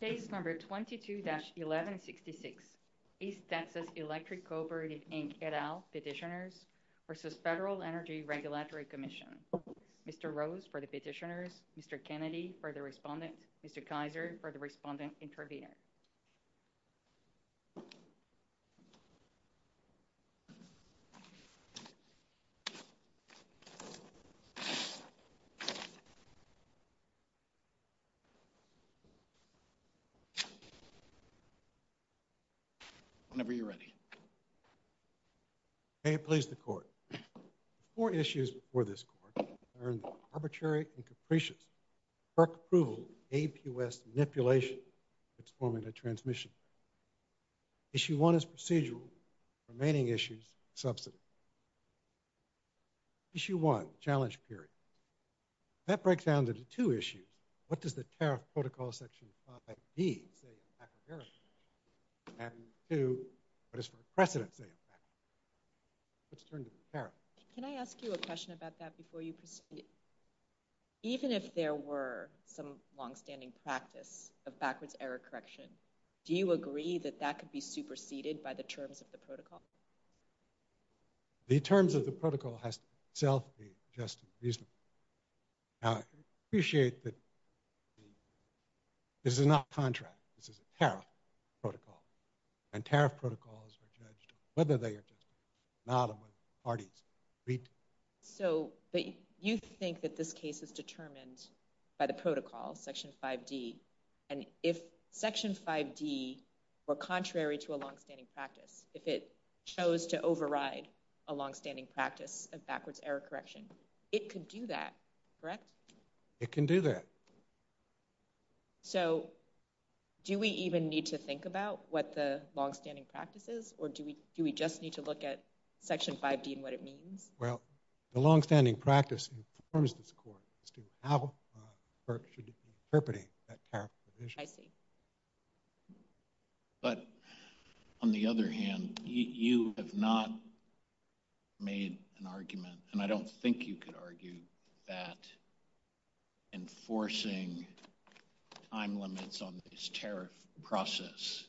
Case number 22-1166, East Texas Electric Cooperative, Inc. et al. petitioners versus Federal Energy Regulatory Commission. Mr. Rose for the petitioners, Mr. Kennedy for the respondent, Mr. Kaiser for the respondent intervener. May it please the Court, the four issues before this Court are in the Arbitrary and Capricious FERC Approval of APUS Manipulation for Transforming a Transmission Plan. Issue 1 is Procedural. Remaining issues are Subsidized. Issue 1, Challenge Period. That breaks down into two issues. What does the Tariff Protocol Section 5B say about backward error? And 2, what does the precedent say about backward error? Let's turn to the tariff. Can I ask you a question about that before you proceed? Even if there were some long-standing practice of backwards error correction, do you agree that that could be superseded by the terms of the protocol? The terms of the protocol has to itself be just and reasonable. Now, I appreciate that this is not contract. This is a tariff protocol. And tariff protocols are judged on whether they are just and reasonable, not on whether parties agree to it. So, but you think that this case is determined by the protocol, Section 5D, and if Section 5D were contrary to a long-standing practice, if it chose to override a long-standing practice of backwards error correction, it could do that, correct? It can do that. So, do we even need to think about what the long-standing practice is, or do we just need to look at Section 5D and what it means? Well, the long-standing practice informs the court as to how it should interpret that tariff provision. I see. But, on the other hand, you have not made an argument, and I don't think you could argue, that enforcing time limits on this tariff process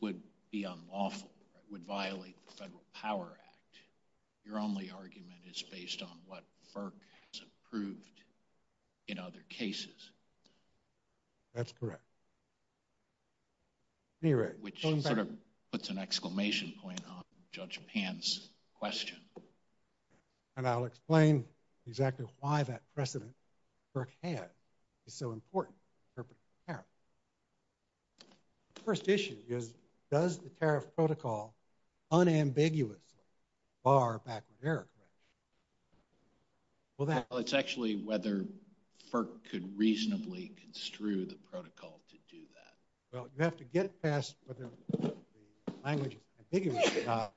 would be unlawful, would violate the Federal Power Act. Your only argument is based on what FERC has approved in other cases. That's correct. Which sort of puts an exclamation point on Judge Pan's question. And I'll explain exactly why that precedent FERC had is so important in interpreting tariff. The first issue is, does the tariff protocol unambiguously bar backward error correction? Well, it's actually whether FERC could reasonably construe the protocol to do that. Well, you have to get past whether the language is ambiguous or not.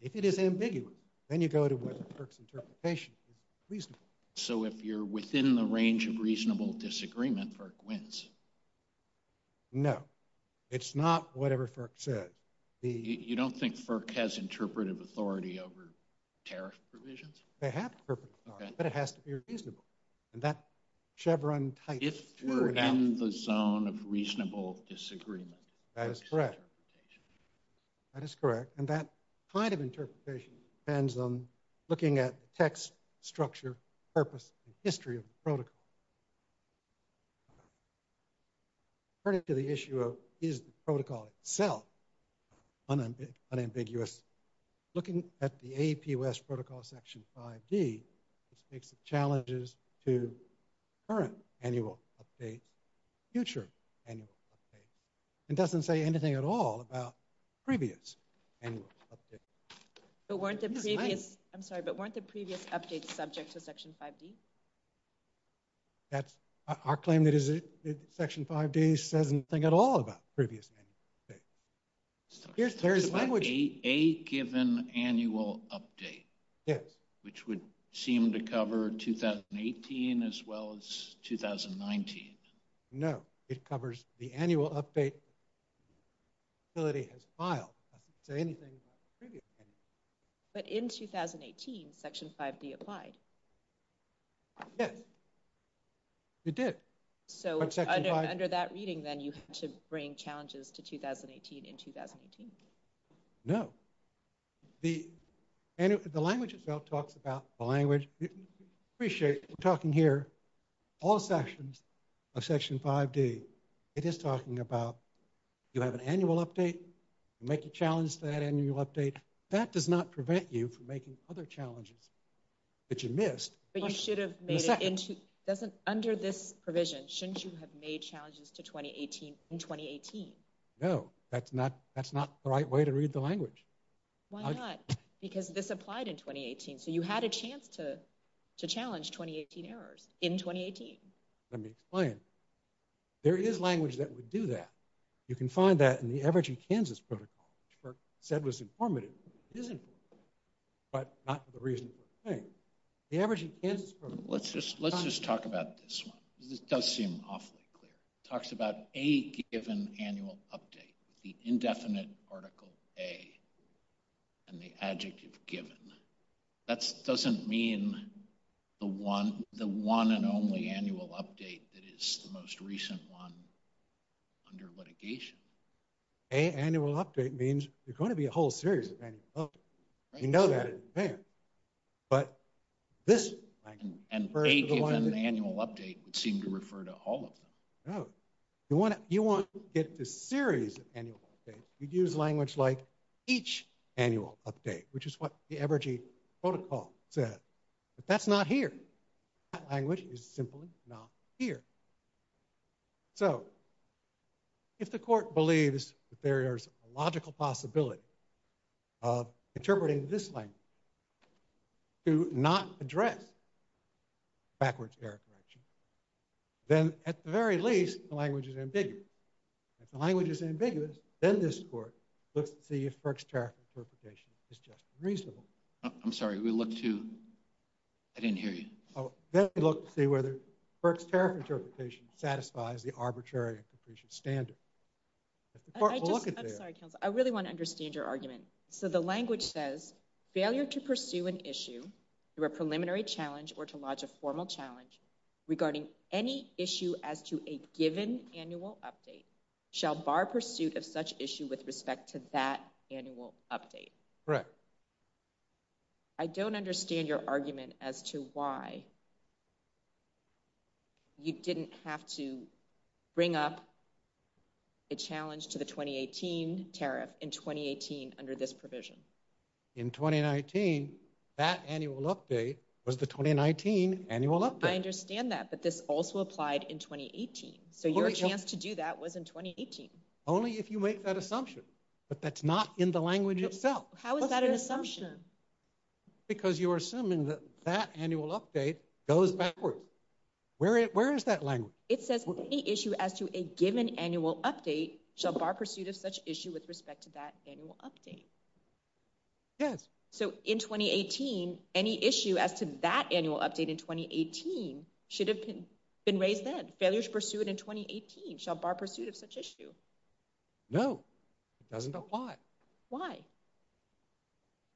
If it is ambiguous, then you go to whether FERC's interpretation is reasonable. So, if you're within the range of reasonable disagreement, FERC wins? No. It's not whatever FERC says. You don't think FERC has interpretive authority over tariff provisions? They have interpretive authority, but it has to be reasonable. If we're in the zone of reasonable disagreement, that is correct. That is correct, and that kind of interpretation depends on looking at text, structure, purpose, and history of the protocol. According to the issue of, is the protocol itself unambiguous, looking at the AP U.S. Protocol Section 5D, it speaks to challenges to current annual updates, future annual updates, and doesn't say anything at all about previous annual updates. I'm sorry, but weren't the previous updates subject to Section 5D? Our claim that Section 5D says nothing at all about previous annual updates. There is language. A given annual update? Yes. Which would seem to cover 2018 as well as 2019. No. It covers the annual update that the facility has filed. It doesn't say anything about previous annual updates. But in 2018, Section 5D applied. Yes. It did. So under that reading, then, you had to bring challenges to 2018 in 2018. No. The language itself talks about the language. We're talking here all sections of Section 5D. It is talking about you have an annual update. You make a challenge to that annual update. That does not prevent you from making other challenges that you missed. But you should have made it into, under this provision, shouldn't you have made challenges to 2018 in 2018? No. That's not the right way to read the language. Why not? Because this applied in 2018. So you had a chance to challenge 2018 errors in 2018. Let me explain. There is language that would do that. You can find that in the Average in Kansas Protocol, which Burke said was informative. It is informative, but not for the reason we're saying. The Average in Kansas Protocol. Let's just talk about this one. This does seem awfully clear. It talks about a given annual update, the indefinite article A, and the adjective given. That doesn't mean the one and only annual update that is the most recent one under litigation. A annual update means there's going to be a whole series of annual updates. You know that in advance. And A given annual update would seem to refer to all of them. No. You want to get the series of annual updates. You'd use language like each annual update, which is what the Average in Kansas Protocol said. But that's not here. That language is simply not here. So if the court believes that there is a logical possibility of interpreting this language to not address backwards error correction, then at the very least, the language is ambiguous. If the language is ambiguous, then this court looks to see if Burke's tariff interpretation is just reasonable. I'm sorry, we looked to... I didn't hear you. Then we looked to see whether Burke's tariff interpretation satisfies the arbitrary and capricious standard. I'm sorry, counsel. I really want to understand your argument. So the language says, failure to pursue an issue through a preliminary challenge or to lodge a formal challenge regarding any issue as to a given annual update shall bar pursuit of such issue with respect to that annual update. Correct. I don't understand your argument as to why you didn't have to bring up a challenge to the 2018 tariff in 2018 under this provision. In 2019, that annual update was the 2019 annual update. I understand that, but this also applied in 2018. So your chance to do that was in 2018. Only if you make that assumption. But that's not in the language itself. How is that an assumption? Because you're assuming that that annual update goes backwards. Where is that language? It says any issue as to a given annual update shall bar pursuit of such issue with respect to that annual update. Yes. So in 2018, any issue as to that annual update in 2018 should have been raised then. Failure to pursue it in 2018 shall bar pursuit of such issue. No. It doesn't apply. Why?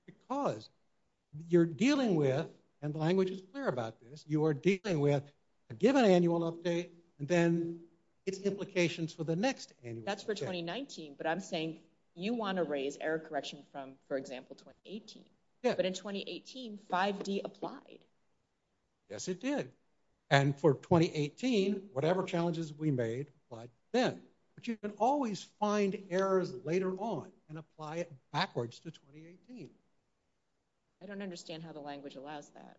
Because you're dealing with, and the language is clear about this, you are dealing with a given annual update and then its implications for the next annual update. That's for 2019, but I'm saying you want to raise error correction from, for example, 2018. Yeah. But in 2018, 5D applied. Yes, it did. And for 2018, whatever challenges we made applied then. But you can always find errors later on and apply it backwards to 2018. I don't understand how the language allows that.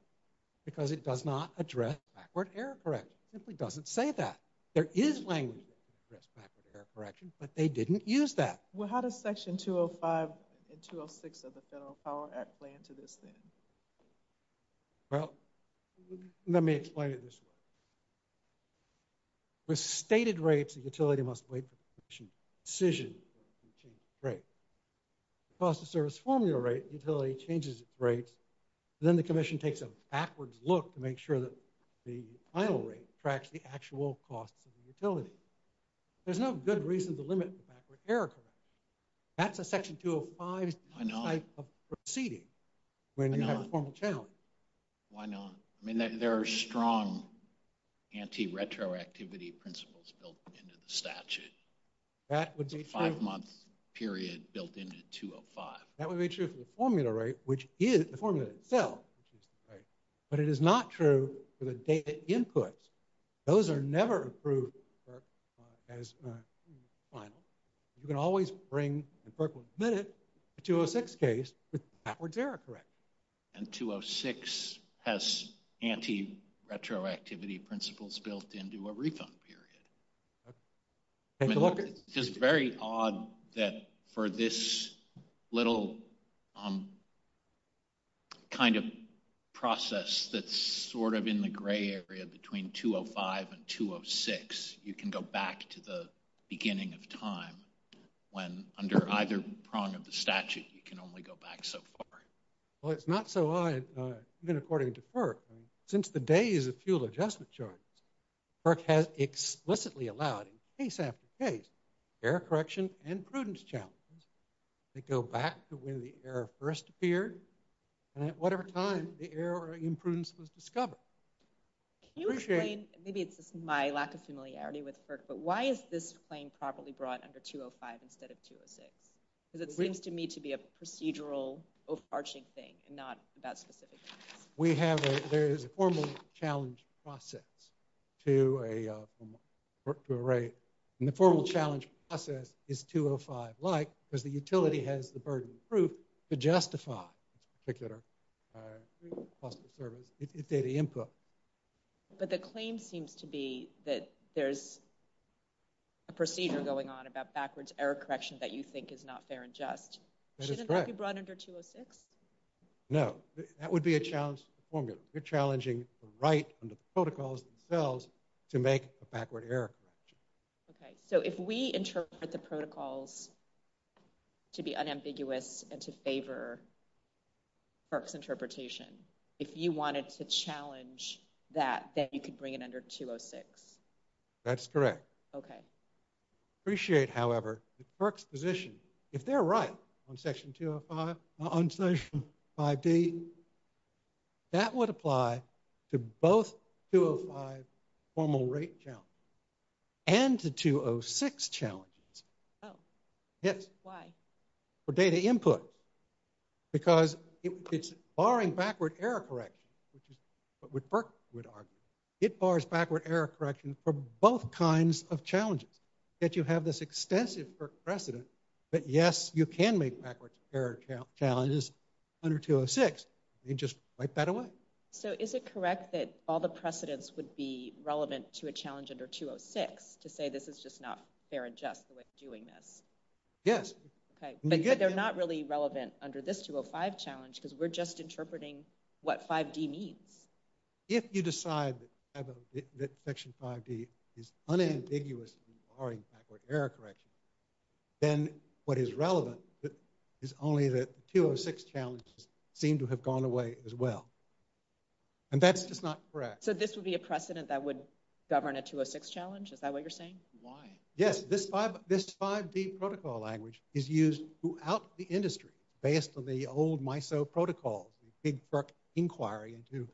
Because it does not address backward error correction. It simply doesn't say that. There is language that can address backward error correction, but they didn't use that. Well, how does Section 205 and 206 of the Federal Power Act play into this then? Well, let me explain it this way. With stated rates, the utility must wait for the commission's decision before it can change its rate. The cost of service formula rate, utility changes its rate, then the commission takes a backwards look to make sure that the final rate tracks the actual costs of the utility. There's no good reason to limit backward error correction. That's a Section 205 type of proceeding when you have a formal challenge. Why not? I mean, there are strong anti-retroactivity principles built into the statute. That would be true. It's a five-month period built into 205. That would be true for the formula rate, which is the formula itself, which is the rate. But it is not true for the data inputs. Those are never approved by FERC as final. You can always bring, and FERC will admit it, a 206 case with backwards error correction. And 206 has anti-retroactivity principles built into a refund period. Okay. Take a look at it. Any process that's sort of in the gray area between 205 and 206, you can go back to the beginning of time when under either prong of the statute you can only go back so far? Well, it's not so odd, even according to FERC. Since the days of fuel adjustment charges, FERC has explicitly allowed, case after case, error correction and prudence challenges that go back to when the error first appeared and at whatever time the error or imprudence was discovered. Can you explain, maybe it's just my lack of familiarity with FERC, but why is this claim properly brought under 205 instead of 206? Because it seems to me to be a procedural overarching thing and not about specific things. There is a formal challenge process to a rate, and the formal challenge process is 205-like because the utility has the burden of proof to justify this particular cost of service, its data input. But the claim seems to be that there's a procedure going on about backwards error correction that you think is not fair and just. That is correct. Shouldn't that be brought under 206? No, that would be a challenge to the formula. You're challenging the right under the protocols themselves to make a backward error correction. Okay. So if we interpret the protocols to be unambiguous and to favor FERC's interpretation, if you wanted to challenge that, then you could bring it under 206? That's correct. Okay. I appreciate, however, that FERC's position, if they're right on Section 205, on Section 5D, that would apply to both 205 formal rate challenges and to 206 challenges. Oh. Yes. Why? For data input. Because it's barring backward error correction, which is what FERC would argue. It bars backward error correction for both kinds of challenges, that you have this extensive FERC precedent, but, yes, you can make backward error challenges under 206. You just wipe that away. So is it correct that all the precedents would be relevant to a challenge under 206 to say this is just not fair and just the way of doing this? Yes. Okay. But they're not really relevant under this 205 challenge because we're just interpreting what 5D means. If you decide that Section 5D is unambiguous and barring backward error correction, then what is relevant is only that the 206 challenges seem to have gone away as well. And that's just not correct. So this would be a precedent that would govern a 206 challenge? Is that what you're saying? Why? Yes. This 5D protocol language is used throughout the industry based on the old MISO protocols, the big FERC inquiry into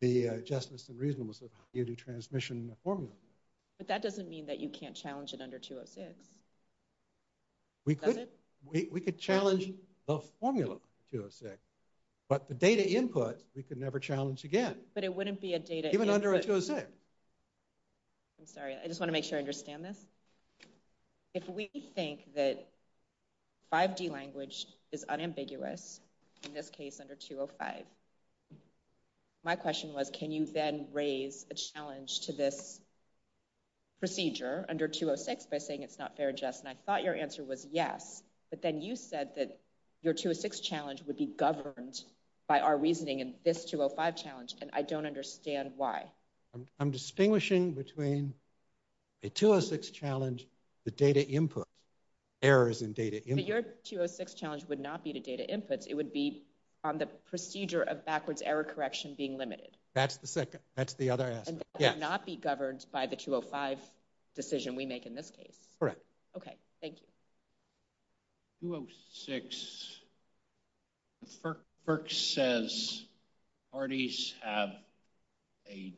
the justice and reasonableness of how you do transmission formula. But that doesn't mean that you can't challenge it under 206. We could challenge the formula 206, but the data input we could never challenge again. But it wouldn't be a data input... Even under a 206. I'm sorry. I just want to make sure I understand this. If we think that 5D language is unambiguous, in this case under 205, my question was, can you then raise a challenge to this procedure under 206 by saying it's not fair, Jess? And I thought your answer was yes, but then you said that your 206 challenge would be governed by our reasoning in this 205 challenge, and I don't understand why. I'm distinguishing between a 206 challenge, the data input, errors in data input. But your 206 challenge would not be to data inputs. It would be on the procedure of backwards error correction being limited. That's the second. That's the other aspect. And that would not be governed by the 205 decision we make in this case. Correct. Okay. Thank you. 206. FERC says parties have a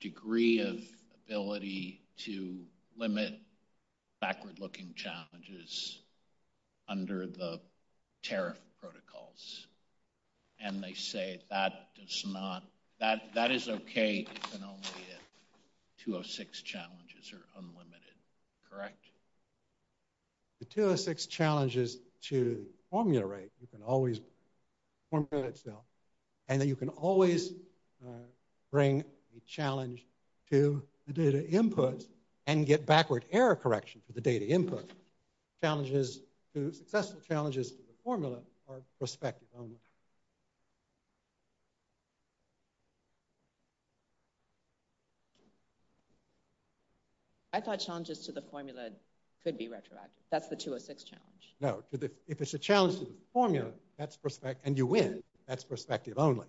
degree of ability to limit backward-looking challenges under the tariff protocols, and they say that is okay if and only if 206 challenges are unlimited. Correct? The 206 challenge is to formulate. You can always formulate itself, and then you can always bring a challenge to the data inputs and get backward error correction for the data input. Successful challenges to the formula are perspective only. I thought challenges to the formula could be retroactive. That's the 206 challenge. No. If it's a challenge to the formula, and you win, that's perspective only.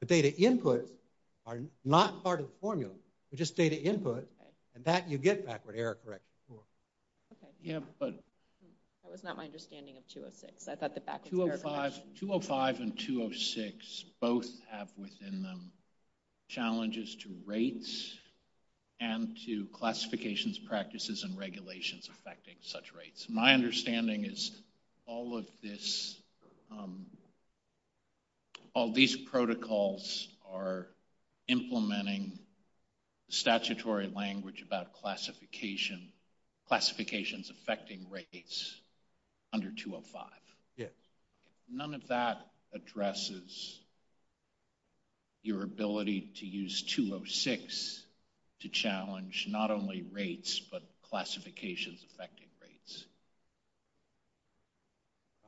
The data inputs are not part of the formula. They're just data input, and that you get backward error correction for. Okay. Yeah, but... That was not my understanding of 206. I thought the backward error correction... 205 and 206 both have within them challenges to rates and to classifications, practices, and regulations affecting such rates. My understanding is all of these protocols are implementing statutory language about classification, classifications affecting rates under 205. Yes. None of that addresses your ability to use 206 to challenge not only rates, but classifications affecting rates.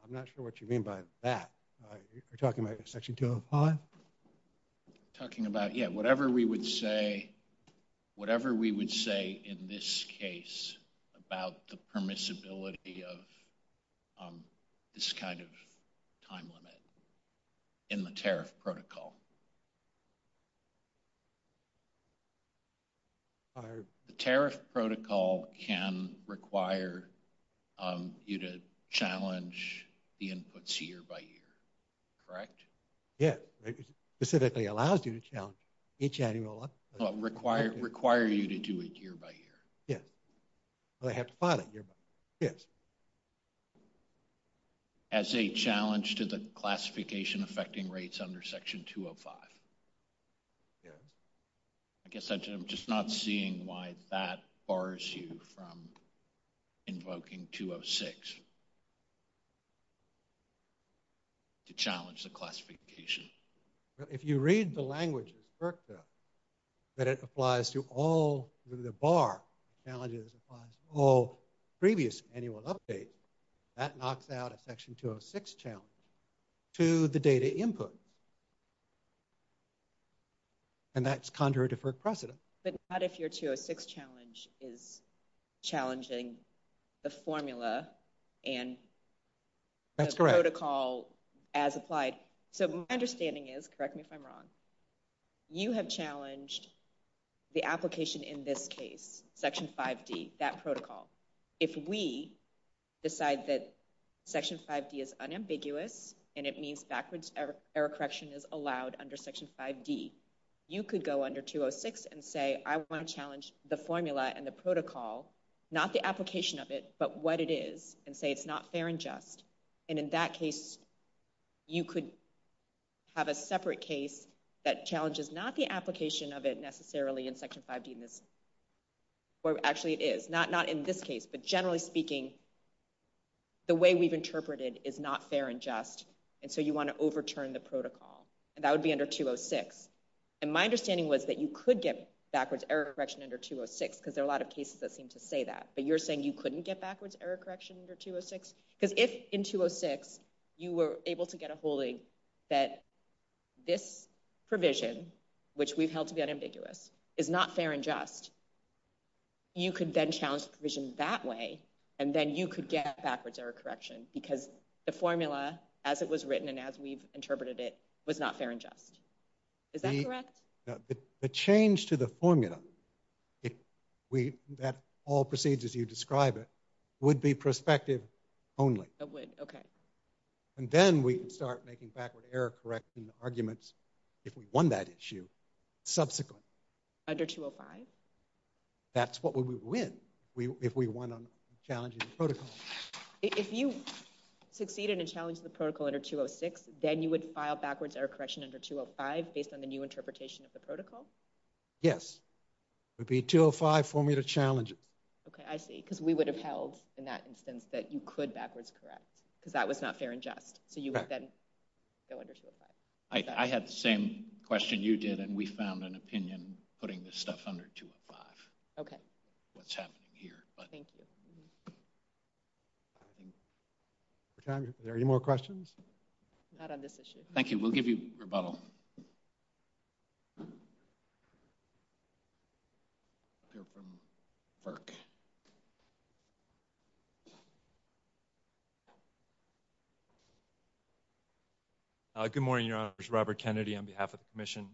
I'm not sure what you mean by that. Are you talking about Section 205? Talking about, yeah, whatever we would say, whatever we would say in this case about the permissibility of this kind of time limit in the tariff protocol. The tariff protocol can require you to challenge the inputs year by year, correct? Yes. It specifically allows you to challenge each annual... Require you to do it year by year. Yes. They have to file it year by year. Yes. As a challenge to the classification affecting rates under Section 205. Yes. I guess I'm just not seeing why that bars you from invoking 206 to challenge the classification. If you read the language of FERC, though, that it applies to all through the bar, challenges applies to all previous annual updates, that knocks out a Section 206 challenge to the data input. And that's contrary to FERC precedent. But not if your 206 challenge is challenging the formula and the protocol as applied. So my understanding is, correct me if I'm wrong, you have challenged the application in this case, Section 5D, that protocol. If we decide that Section 5D is unambiguous and it means backwards error correction is allowed under Section 5D, you could go under 206 and say, I want to challenge the formula and the protocol, not the application of it, but what it is, and say it's not fair and just. And in that case, you could have a separate case that challenges not the application of it necessarily in Section 5D, where actually it is, not in this case, but generally speaking, the way we've interpreted is not fair and just, and so you want to overturn the protocol. And that would be under 206. And my understanding was that you could get backwards error correction under 206, because there are a lot of cases that seem to say that. But you're saying you couldn't get backwards error correction under 206? Because if in 206 you were able to get a holding that this provision, which we've held to be unambiguous, is not fair and just, you could then challenge the provision that way, and then you could get backwards error correction, because the formula, as it was written and as we've interpreted it, was not fair and just. Is that correct? The change to the formula that all proceeds as you describe it would be prospective only. It would, okay. And then we could start making backwards error correction arguments if we won that issue subsequently. Under 205? That's what we would win if we won on challenging the protocol. If you succeeded in challenging the protocol under 206, then you would file backwards error correction under 205 based on the new interpretation of the protocol? Yes. It would be 205 formula challenges. Okay, I see, because we would have held in that instance that you could backwards correct, because that was not fair and just. So you would then go under 205. I had the same question you did, and we found an opinion putting this stuff under 205, what's happening here. Thank you. Are there any more questions? Not on this issue. We'll give you rebuttal. We'll hear from FERC. Good morning, Your Honors. Robert Kennedy on behalf of the Commission.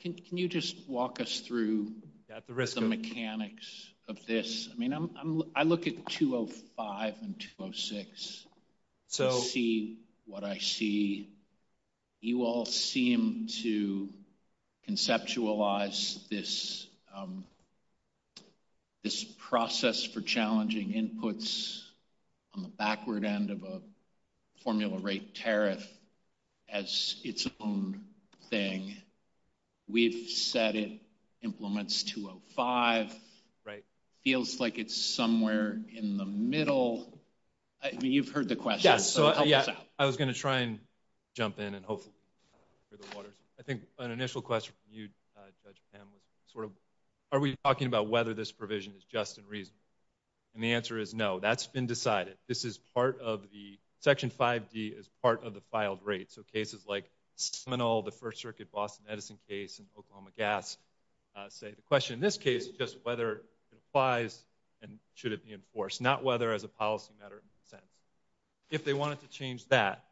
Can you just walk us through the mechanics of this? I look at 205 and 206 to see what I see. You all seem to conceptualize this process for challenging inputs on the backward end of a formula rate tariff as its own thing. We've said it implements 205. Right. Feels like it's somewhere in the middle. I mean, you've heard the question, so help us out. Yeah, I was going to try and jump in and hopefully clear the waters. I think an initial question from you, Judge Pam, was sort of are we talking about whether this provision is just and reasonable? And the answer is no. That's been decided. Section 5D is part of the filed rate. So cases like Seminole, the First Circuit Boston Edison case, and Oklahoma Gas say the question in this case is just whether it applies and should it be enforced, not whether as a policy matter it makes sense. If they wanted to change that,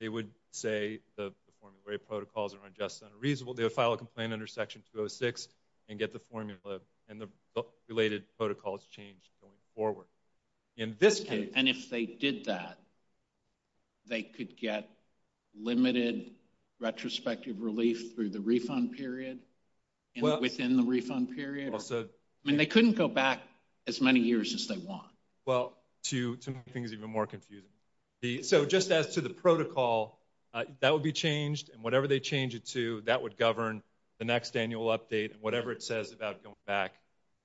they would say the formula rate protocols are just and reasonable. They would file a complaint under Section 206 and get the formula and the related protocols change going forward. In this case. And if they did that, they could get limited retrospective relief through the refund period and within the refund period? I mean, they couldn't go back as many years as they want. Well, to make things even more confusing. So just as to the protocol, that would be changed, and whatever they change it to, that would govern the next annual update and whatever it says about going back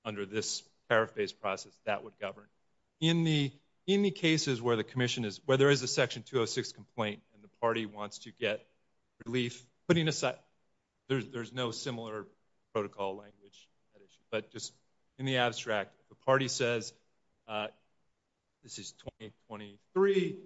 under this paraphrase process, that would govern. In the cases where there is a Section 206 complaint and the party wants to get relief, there's no similar protocol language, but just in the abstract, the party says this is 2023.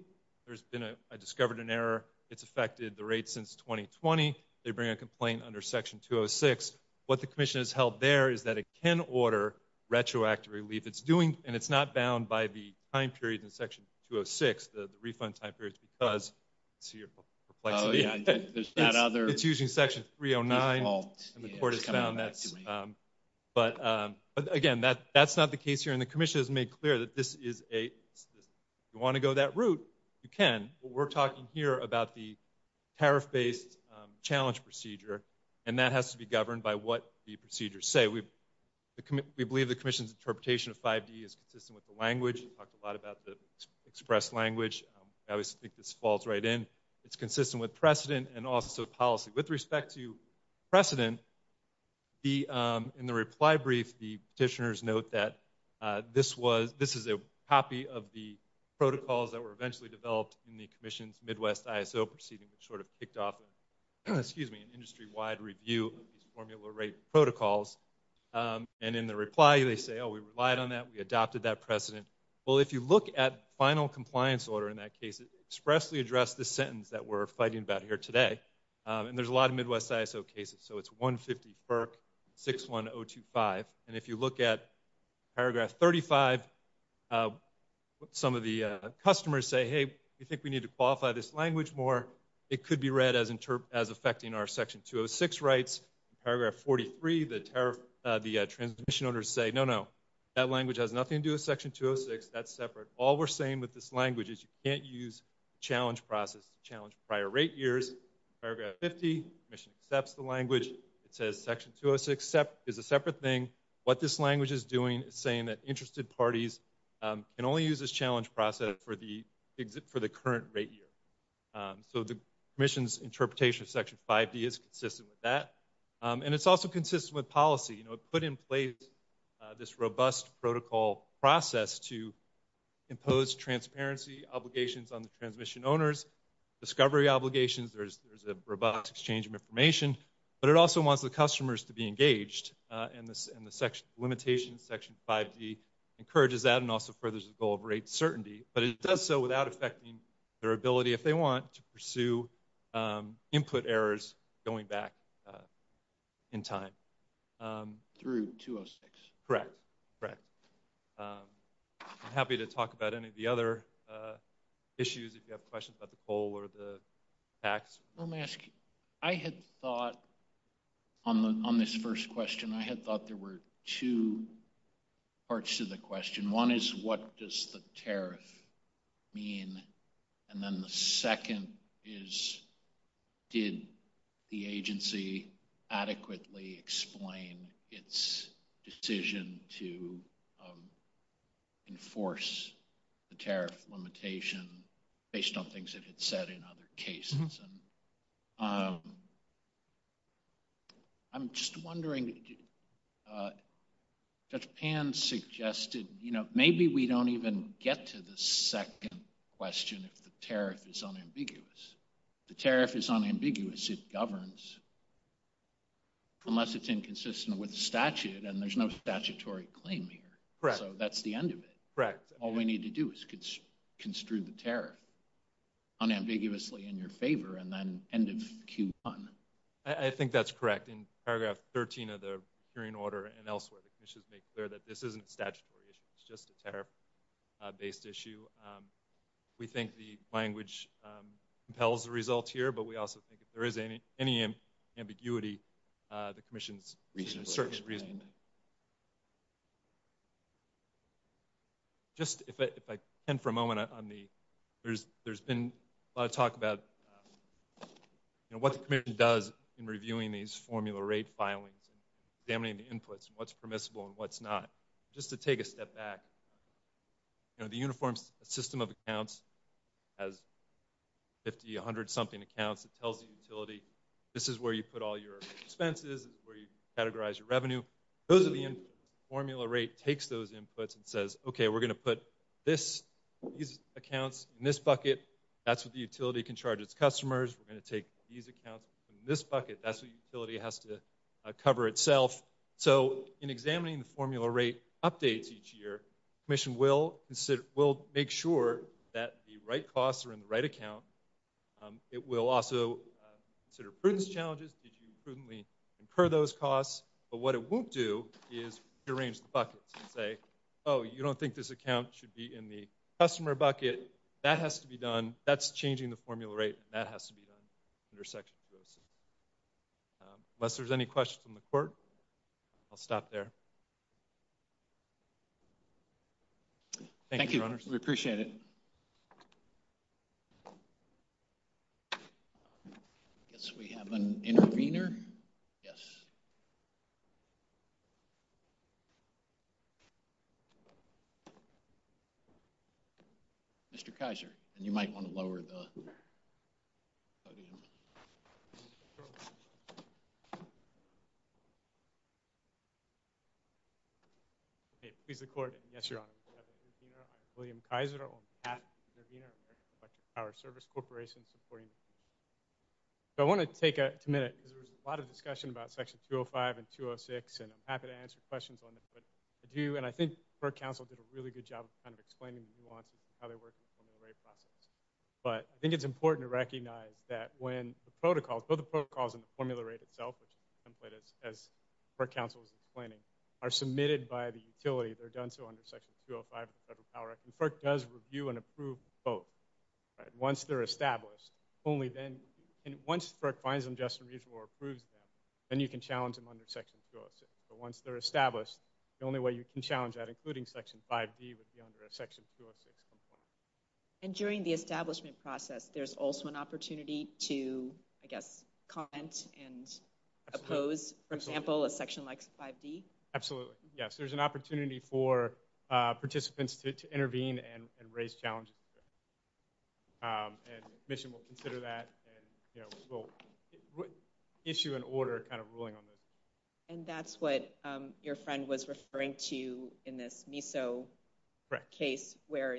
I discovered an error. It's affected the rate since 2020. They bring a complaint under Section 206. What the commission has held there is that it can order retroactive relief. It's doing, and it's not bound by the time period in Section 206, the refund time period because it's using Section 309. And the court has found that. But again, that's not the case here. And the commission has made clear that this is a, you want to go that route. You can. We're talking here about the tariff based challenge procedure, and that has to be governed by what the procedures say. We believe the commission's interpretation of 5D is consistent with the language. We talked a lot about the express language. I always think this falls right in. It's consistent with precedent and also policy. With respect to precedent, in the reply brief, the petitioners note that this is a copy of the protocols that were eventually developed in the commission's Midwest ISO proceeding, which sort of kicked off an industry-wide review of these formula rate protocols. And in the reply, they say, oh, we relied on that. We adopted that precedent. Well, if you look at final compliance order in that case, it expressly addressed the sentence that we're fighting about here today. And there's a lot of Midwest ISO cases. So it's 150 FERC 61025. And if you look at paragraph 35, some of the customers say, hey, we think we need to qualify this language more. It could be read as affecting our section 206 rights. Paragraph 43, the transmission owners say, no, no. That language has nothing to do with section 206. That's separate. All we're saying with this language is you can't use challenge process to challenge prior rate years. Paragraph 50, the commission accepts the language. It says section 206 is a separate thing. What this language is doing is saying that interested parties can only use this challenge process for the current rate year. So the commission's interpretation of section 5D is consistent with that. And it's also consistent with policy. You know, it put in place this robust protocol process to impose transparency obligations on the transmission owners, discovery obligations. There's a robust exchange of information. But it also wants the customers to be engaged. And the limitation in section 5D encourages that and also furthers the goal of rate certainty. But it does so without affecting their ability, if they want, to pursue input errors going back in time. Through 206. Correct. Correct. I'm happy to talk about any of the other issues if you have questions about the coal or the tax. Let me ask you, I had thought on this first question, I had thought there were two parts to the question. One is what does the tariff mean? And then the second is did the agency adequately explain its decision to enforce the tariff limitation based on things it had said in other cases? And I'm just wondering, Judge Pan suggested, you know, maybe we don't even get to the second question if the tariff is unambiguous. If the tariff is unambiguous, it governs, unless it's inconsistent with statute. And there's no statutory claim here. Correct. So that's the end of it. Correct. All we need to do is construe the tariff unambiguously in your favor and then end of Q1. I think that's correct. In paragraph 13 of the hearing order and elsewhere, the commission has made clear that this isn't a statutory issue. It's just a tariff-based issue. We think the language compels the result here, but we also think if there is any ambiguity, the commission's certain reason. Just if I can for a moment, there's been a lot of talk about what the commission does in reviewing these formula rate filings and examining the inputs and what's permissible and what's not. Just to take a step back, you know, the uniform system of accounts has 50, 100-something accounts. It tells the utility, this is where you put all your expenses, this is where you categorize your revenue. Those are the inputs. The formula rate takes those inputs and says, okay, we're going to put these accounts in this bucket. That's what the utility can charge its customers. We're going to take these accounts from this bucket. That's what the utility has to cover itself. So in examining the formula rate updates each year, the commission will make sure that the right costs are in the right account. It will also consider prudence challenges. Did you prudently incur those costs? But what it won't do is rearrange the buckets and say, oh, you don't think this account should be in the customer bucket. That has to be done. That's changing the formula rate. That has to be done under section 206. Unless there's any questions from the court, I'll stop there. Thank you. Thank you, Your Honors. We appreciate it. I guess we have an intervener. Yes. Mr. Kaiser. And you might want to lower the podium. Okay. Please record it. Yes, Your Honor. William Kaiser on behalf of Intervener Electric Power Service Corporation supporting. So I want to take a minute because there was a lot of discussion about section 205 and 206, and I'm happy to answer questions on it. But I do, and I think our counsel did a really good job of kind of explaining the nuances of how they work in the formula rate process. But I think it's important to recognize that when the protocols, both the protocols and the formula rate itself, which is a template as our counsel was explaining, are submitted by the utility, they're done so under section 205 of the Federal Power Act. And FERC does review and approve both. Once they're established, only then, and once FERC finds them just or approves them, then you can challenge them under section 206. But once they're established, the only way you can challenge that, including section 5B, would be under a section 206. And during the establishment process, there's also an opportunity to, I guess, comment and oppose, for example, a section like 5D? Absolutely. Yes, there's an opportunity for participants to intervene and raise challenges. And the Commission will consider that and we'll issue an order kind of ruling on this. And that's what your friend was referring to in this MISO case where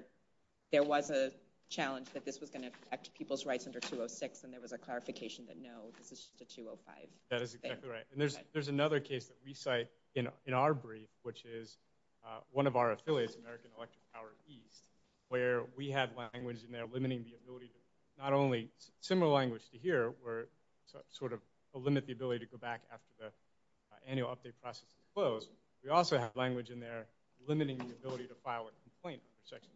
there was a challenge that this was going to affect people's rights under 206 and there was a clarification that no, this is just a 205. That is exactly right. And there's another case that we cite in our brief, which is one of our affiliates, American Electric Power East, where we have language in there limiting the ability to, not only similar language to here, where sort of limit the ability to go back after the annual update process is closed, we also have language in there limiting the ability to file a complaint under Section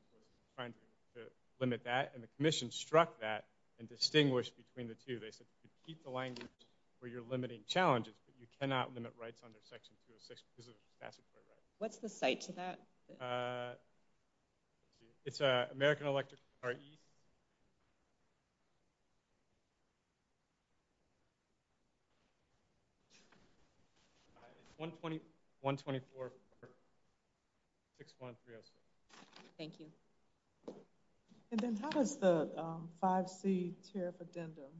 206, trying to limit that. And the Commission struck that and distinguished between the two. They said you can keep the language where you're limiting challenges, but you cannot limit rights under Section 206 because it's a statutory right. What's the cite to that? It's American Electric Power East. Thank you. 124 for 6.306. Thank you. And then how does the 5C tariff addendum,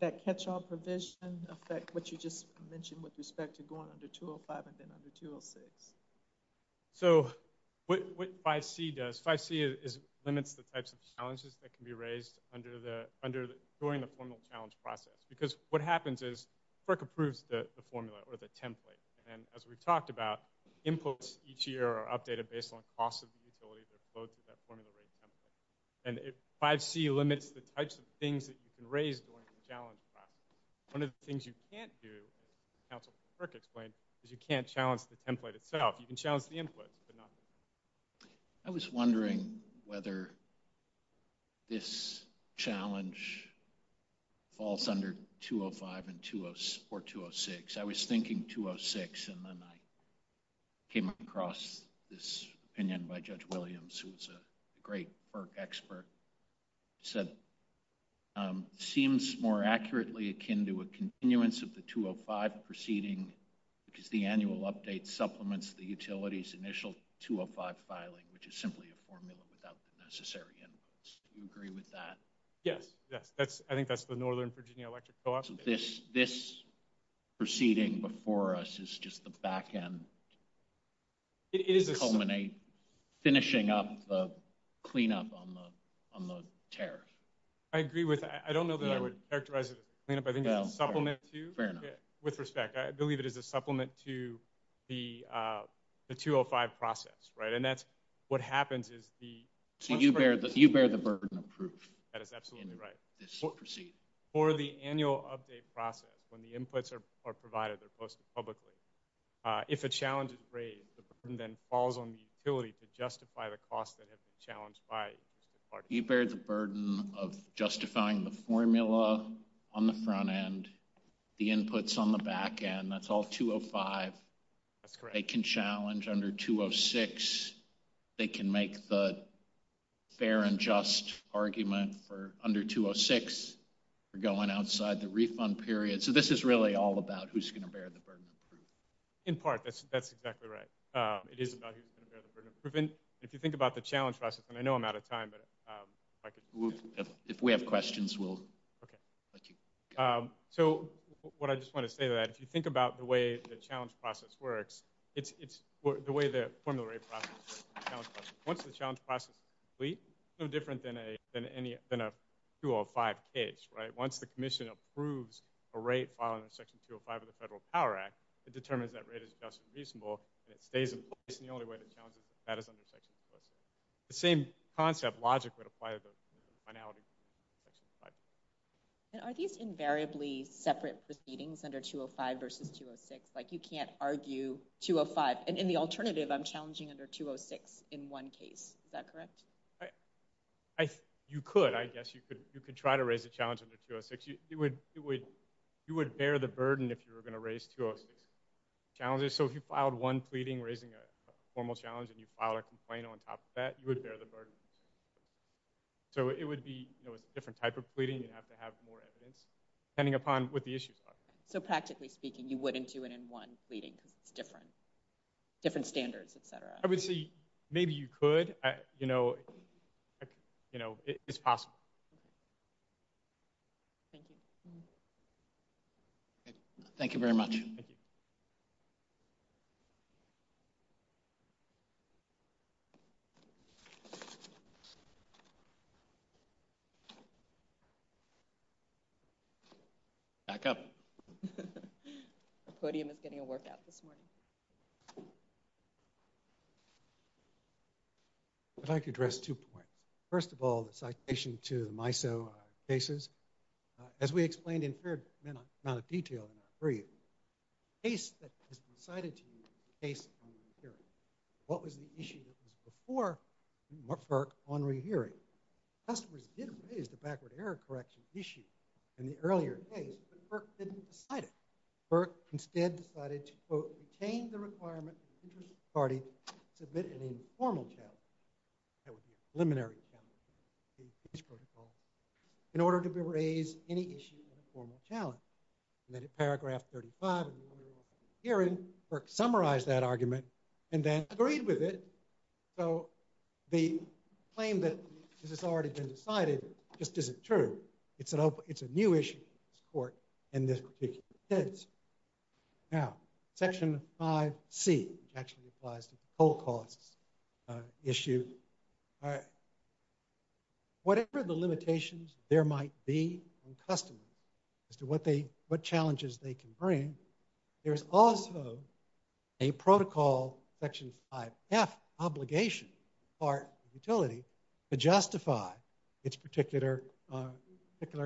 that catch-all provision affect what you just mentioned with respect to going under 205 and then under 206? So what 5C does, 5C limits the types of challenges that can be raised during the formal challenge process because what happens is FERC approves the formula or the template. And as we've talked about, inputs each year are updated based on cost of the utility that flowed through that formula rate template. And 5C limits the types of things that you can raise during the challenge process. One of the things you can't do, as Councilman Ferk explained, is you can't challenge the template itself. You can challenge the input, but not the template. I was wondering whether this challenge falls under 205 or 206. I was thinking 206, and then I came across this opinion by Judge Williams, who was a great FERC expert. He said, seems more accurately akin to a continuance of the 205 proceeding because the annual update supplements the utility's initial 205 filing, which is simply a formula without the necessary inputs. Do you agree with that? Yes. Yes. I think that's the Northern Virginia Electric Co-op. So this proceeding before us is just the backend to culminate, finishing up the cleanup on the tariff. I agree with that. I don't know that I would characterize it as a cleanup. I think it's a supplement to. Fair enough. With respect, I believe it is a supplement to the 205 process, right? And that's what happens is the. So you bear the burden of proof. That is absolutely right. For the annual update process, when the inputs are provided, they're posted publicly. If a challenge is raised, the burden then falls on the utility to justify the costs that have been challenged by. You bear the burden of justifying the formula on the front end, the inputs on the backend, that's all 205. That's correct. They can challenge under 206. They can make the fair and just argument for under 206. We're going outside the refund period. So this is really all about who's going to bear the burden. In part, that's, that's exactly right. It is about who's going to bear the burden of proven. If you think about the challenge process and I know I'm out of time, but if we have questions, we'll. Okay. So what I just want to say to that, if you think about the way the challenge process works, it's, it's the way the formula rate process, once the challenge process is complete, no different than a, than any, than a 205 case, right? Once the commission approves a rate following the section 205 of the federal power act, it determines that rate is just reasonable and it stays in place. And the only way to challenge that is under section. The same concept logic would apply to the finality. And are these invariably separate proceedings under 205 versus 206? Like you can't argue 205 and in the alternative I'm challenging under 206 in one case, is that correct? I, you could, I guess you could, you could try to raise a challenge under 206. It would, it would, you would bear the burden if you were going to raise 206 challenges. So if you filed one pleading, raising a formal challenge and you filed a complaint on top of that, you would bear the burden. So it would be a different type of pleading. You'd have to have more evidence pending upon what the issues are. So practically speaking, you wouldn't do it in one pleading because it's different, different standards, et cetera. I would see, maybe you could, you know, you know, it's possible. Thank you. Thank you very much. Thank you. Back up. The podium is getting a workout this morning. I'd like to address two points. First of all, the citation to the MISO cases. As we explained in fair amount of detail in our brief, the case that has been cited to you is a case on the inferiority. What was the issue that was before FERC on rehearing? Customers did raise the backward error correction issue in the earlier case, but FERC didn't decide it. FERC instead decided to, quote, retain the requirement of the interest party to submit an informal challenge, that would be a preliminary challenge in the case protocol, in order to be raised any issue of a formal challenge. And then in paragraph 35, FERC summarized that argument and then agreed with it. So the claim that this has already been decided just isn't true. It's a new issue in this court in this particular instance. Now, section 5C, which actually applies to the full costs issue. Whatever the limitations there might be on customers as to what they, what challenges they can bring, there's also a protocol, section 5F, obligation, part of utility, to justify its particular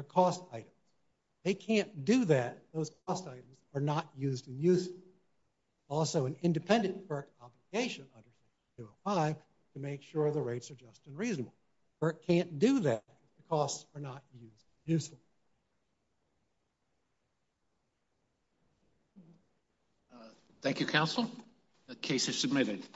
cost items. They can't do that. Those cost items are not used and useful. Also an independent FERC obligation under section 205 to make sure the rates are just and reasonable. FERC can't do that. The costs are not used and useful. Thank you, counsel. The case is submitted.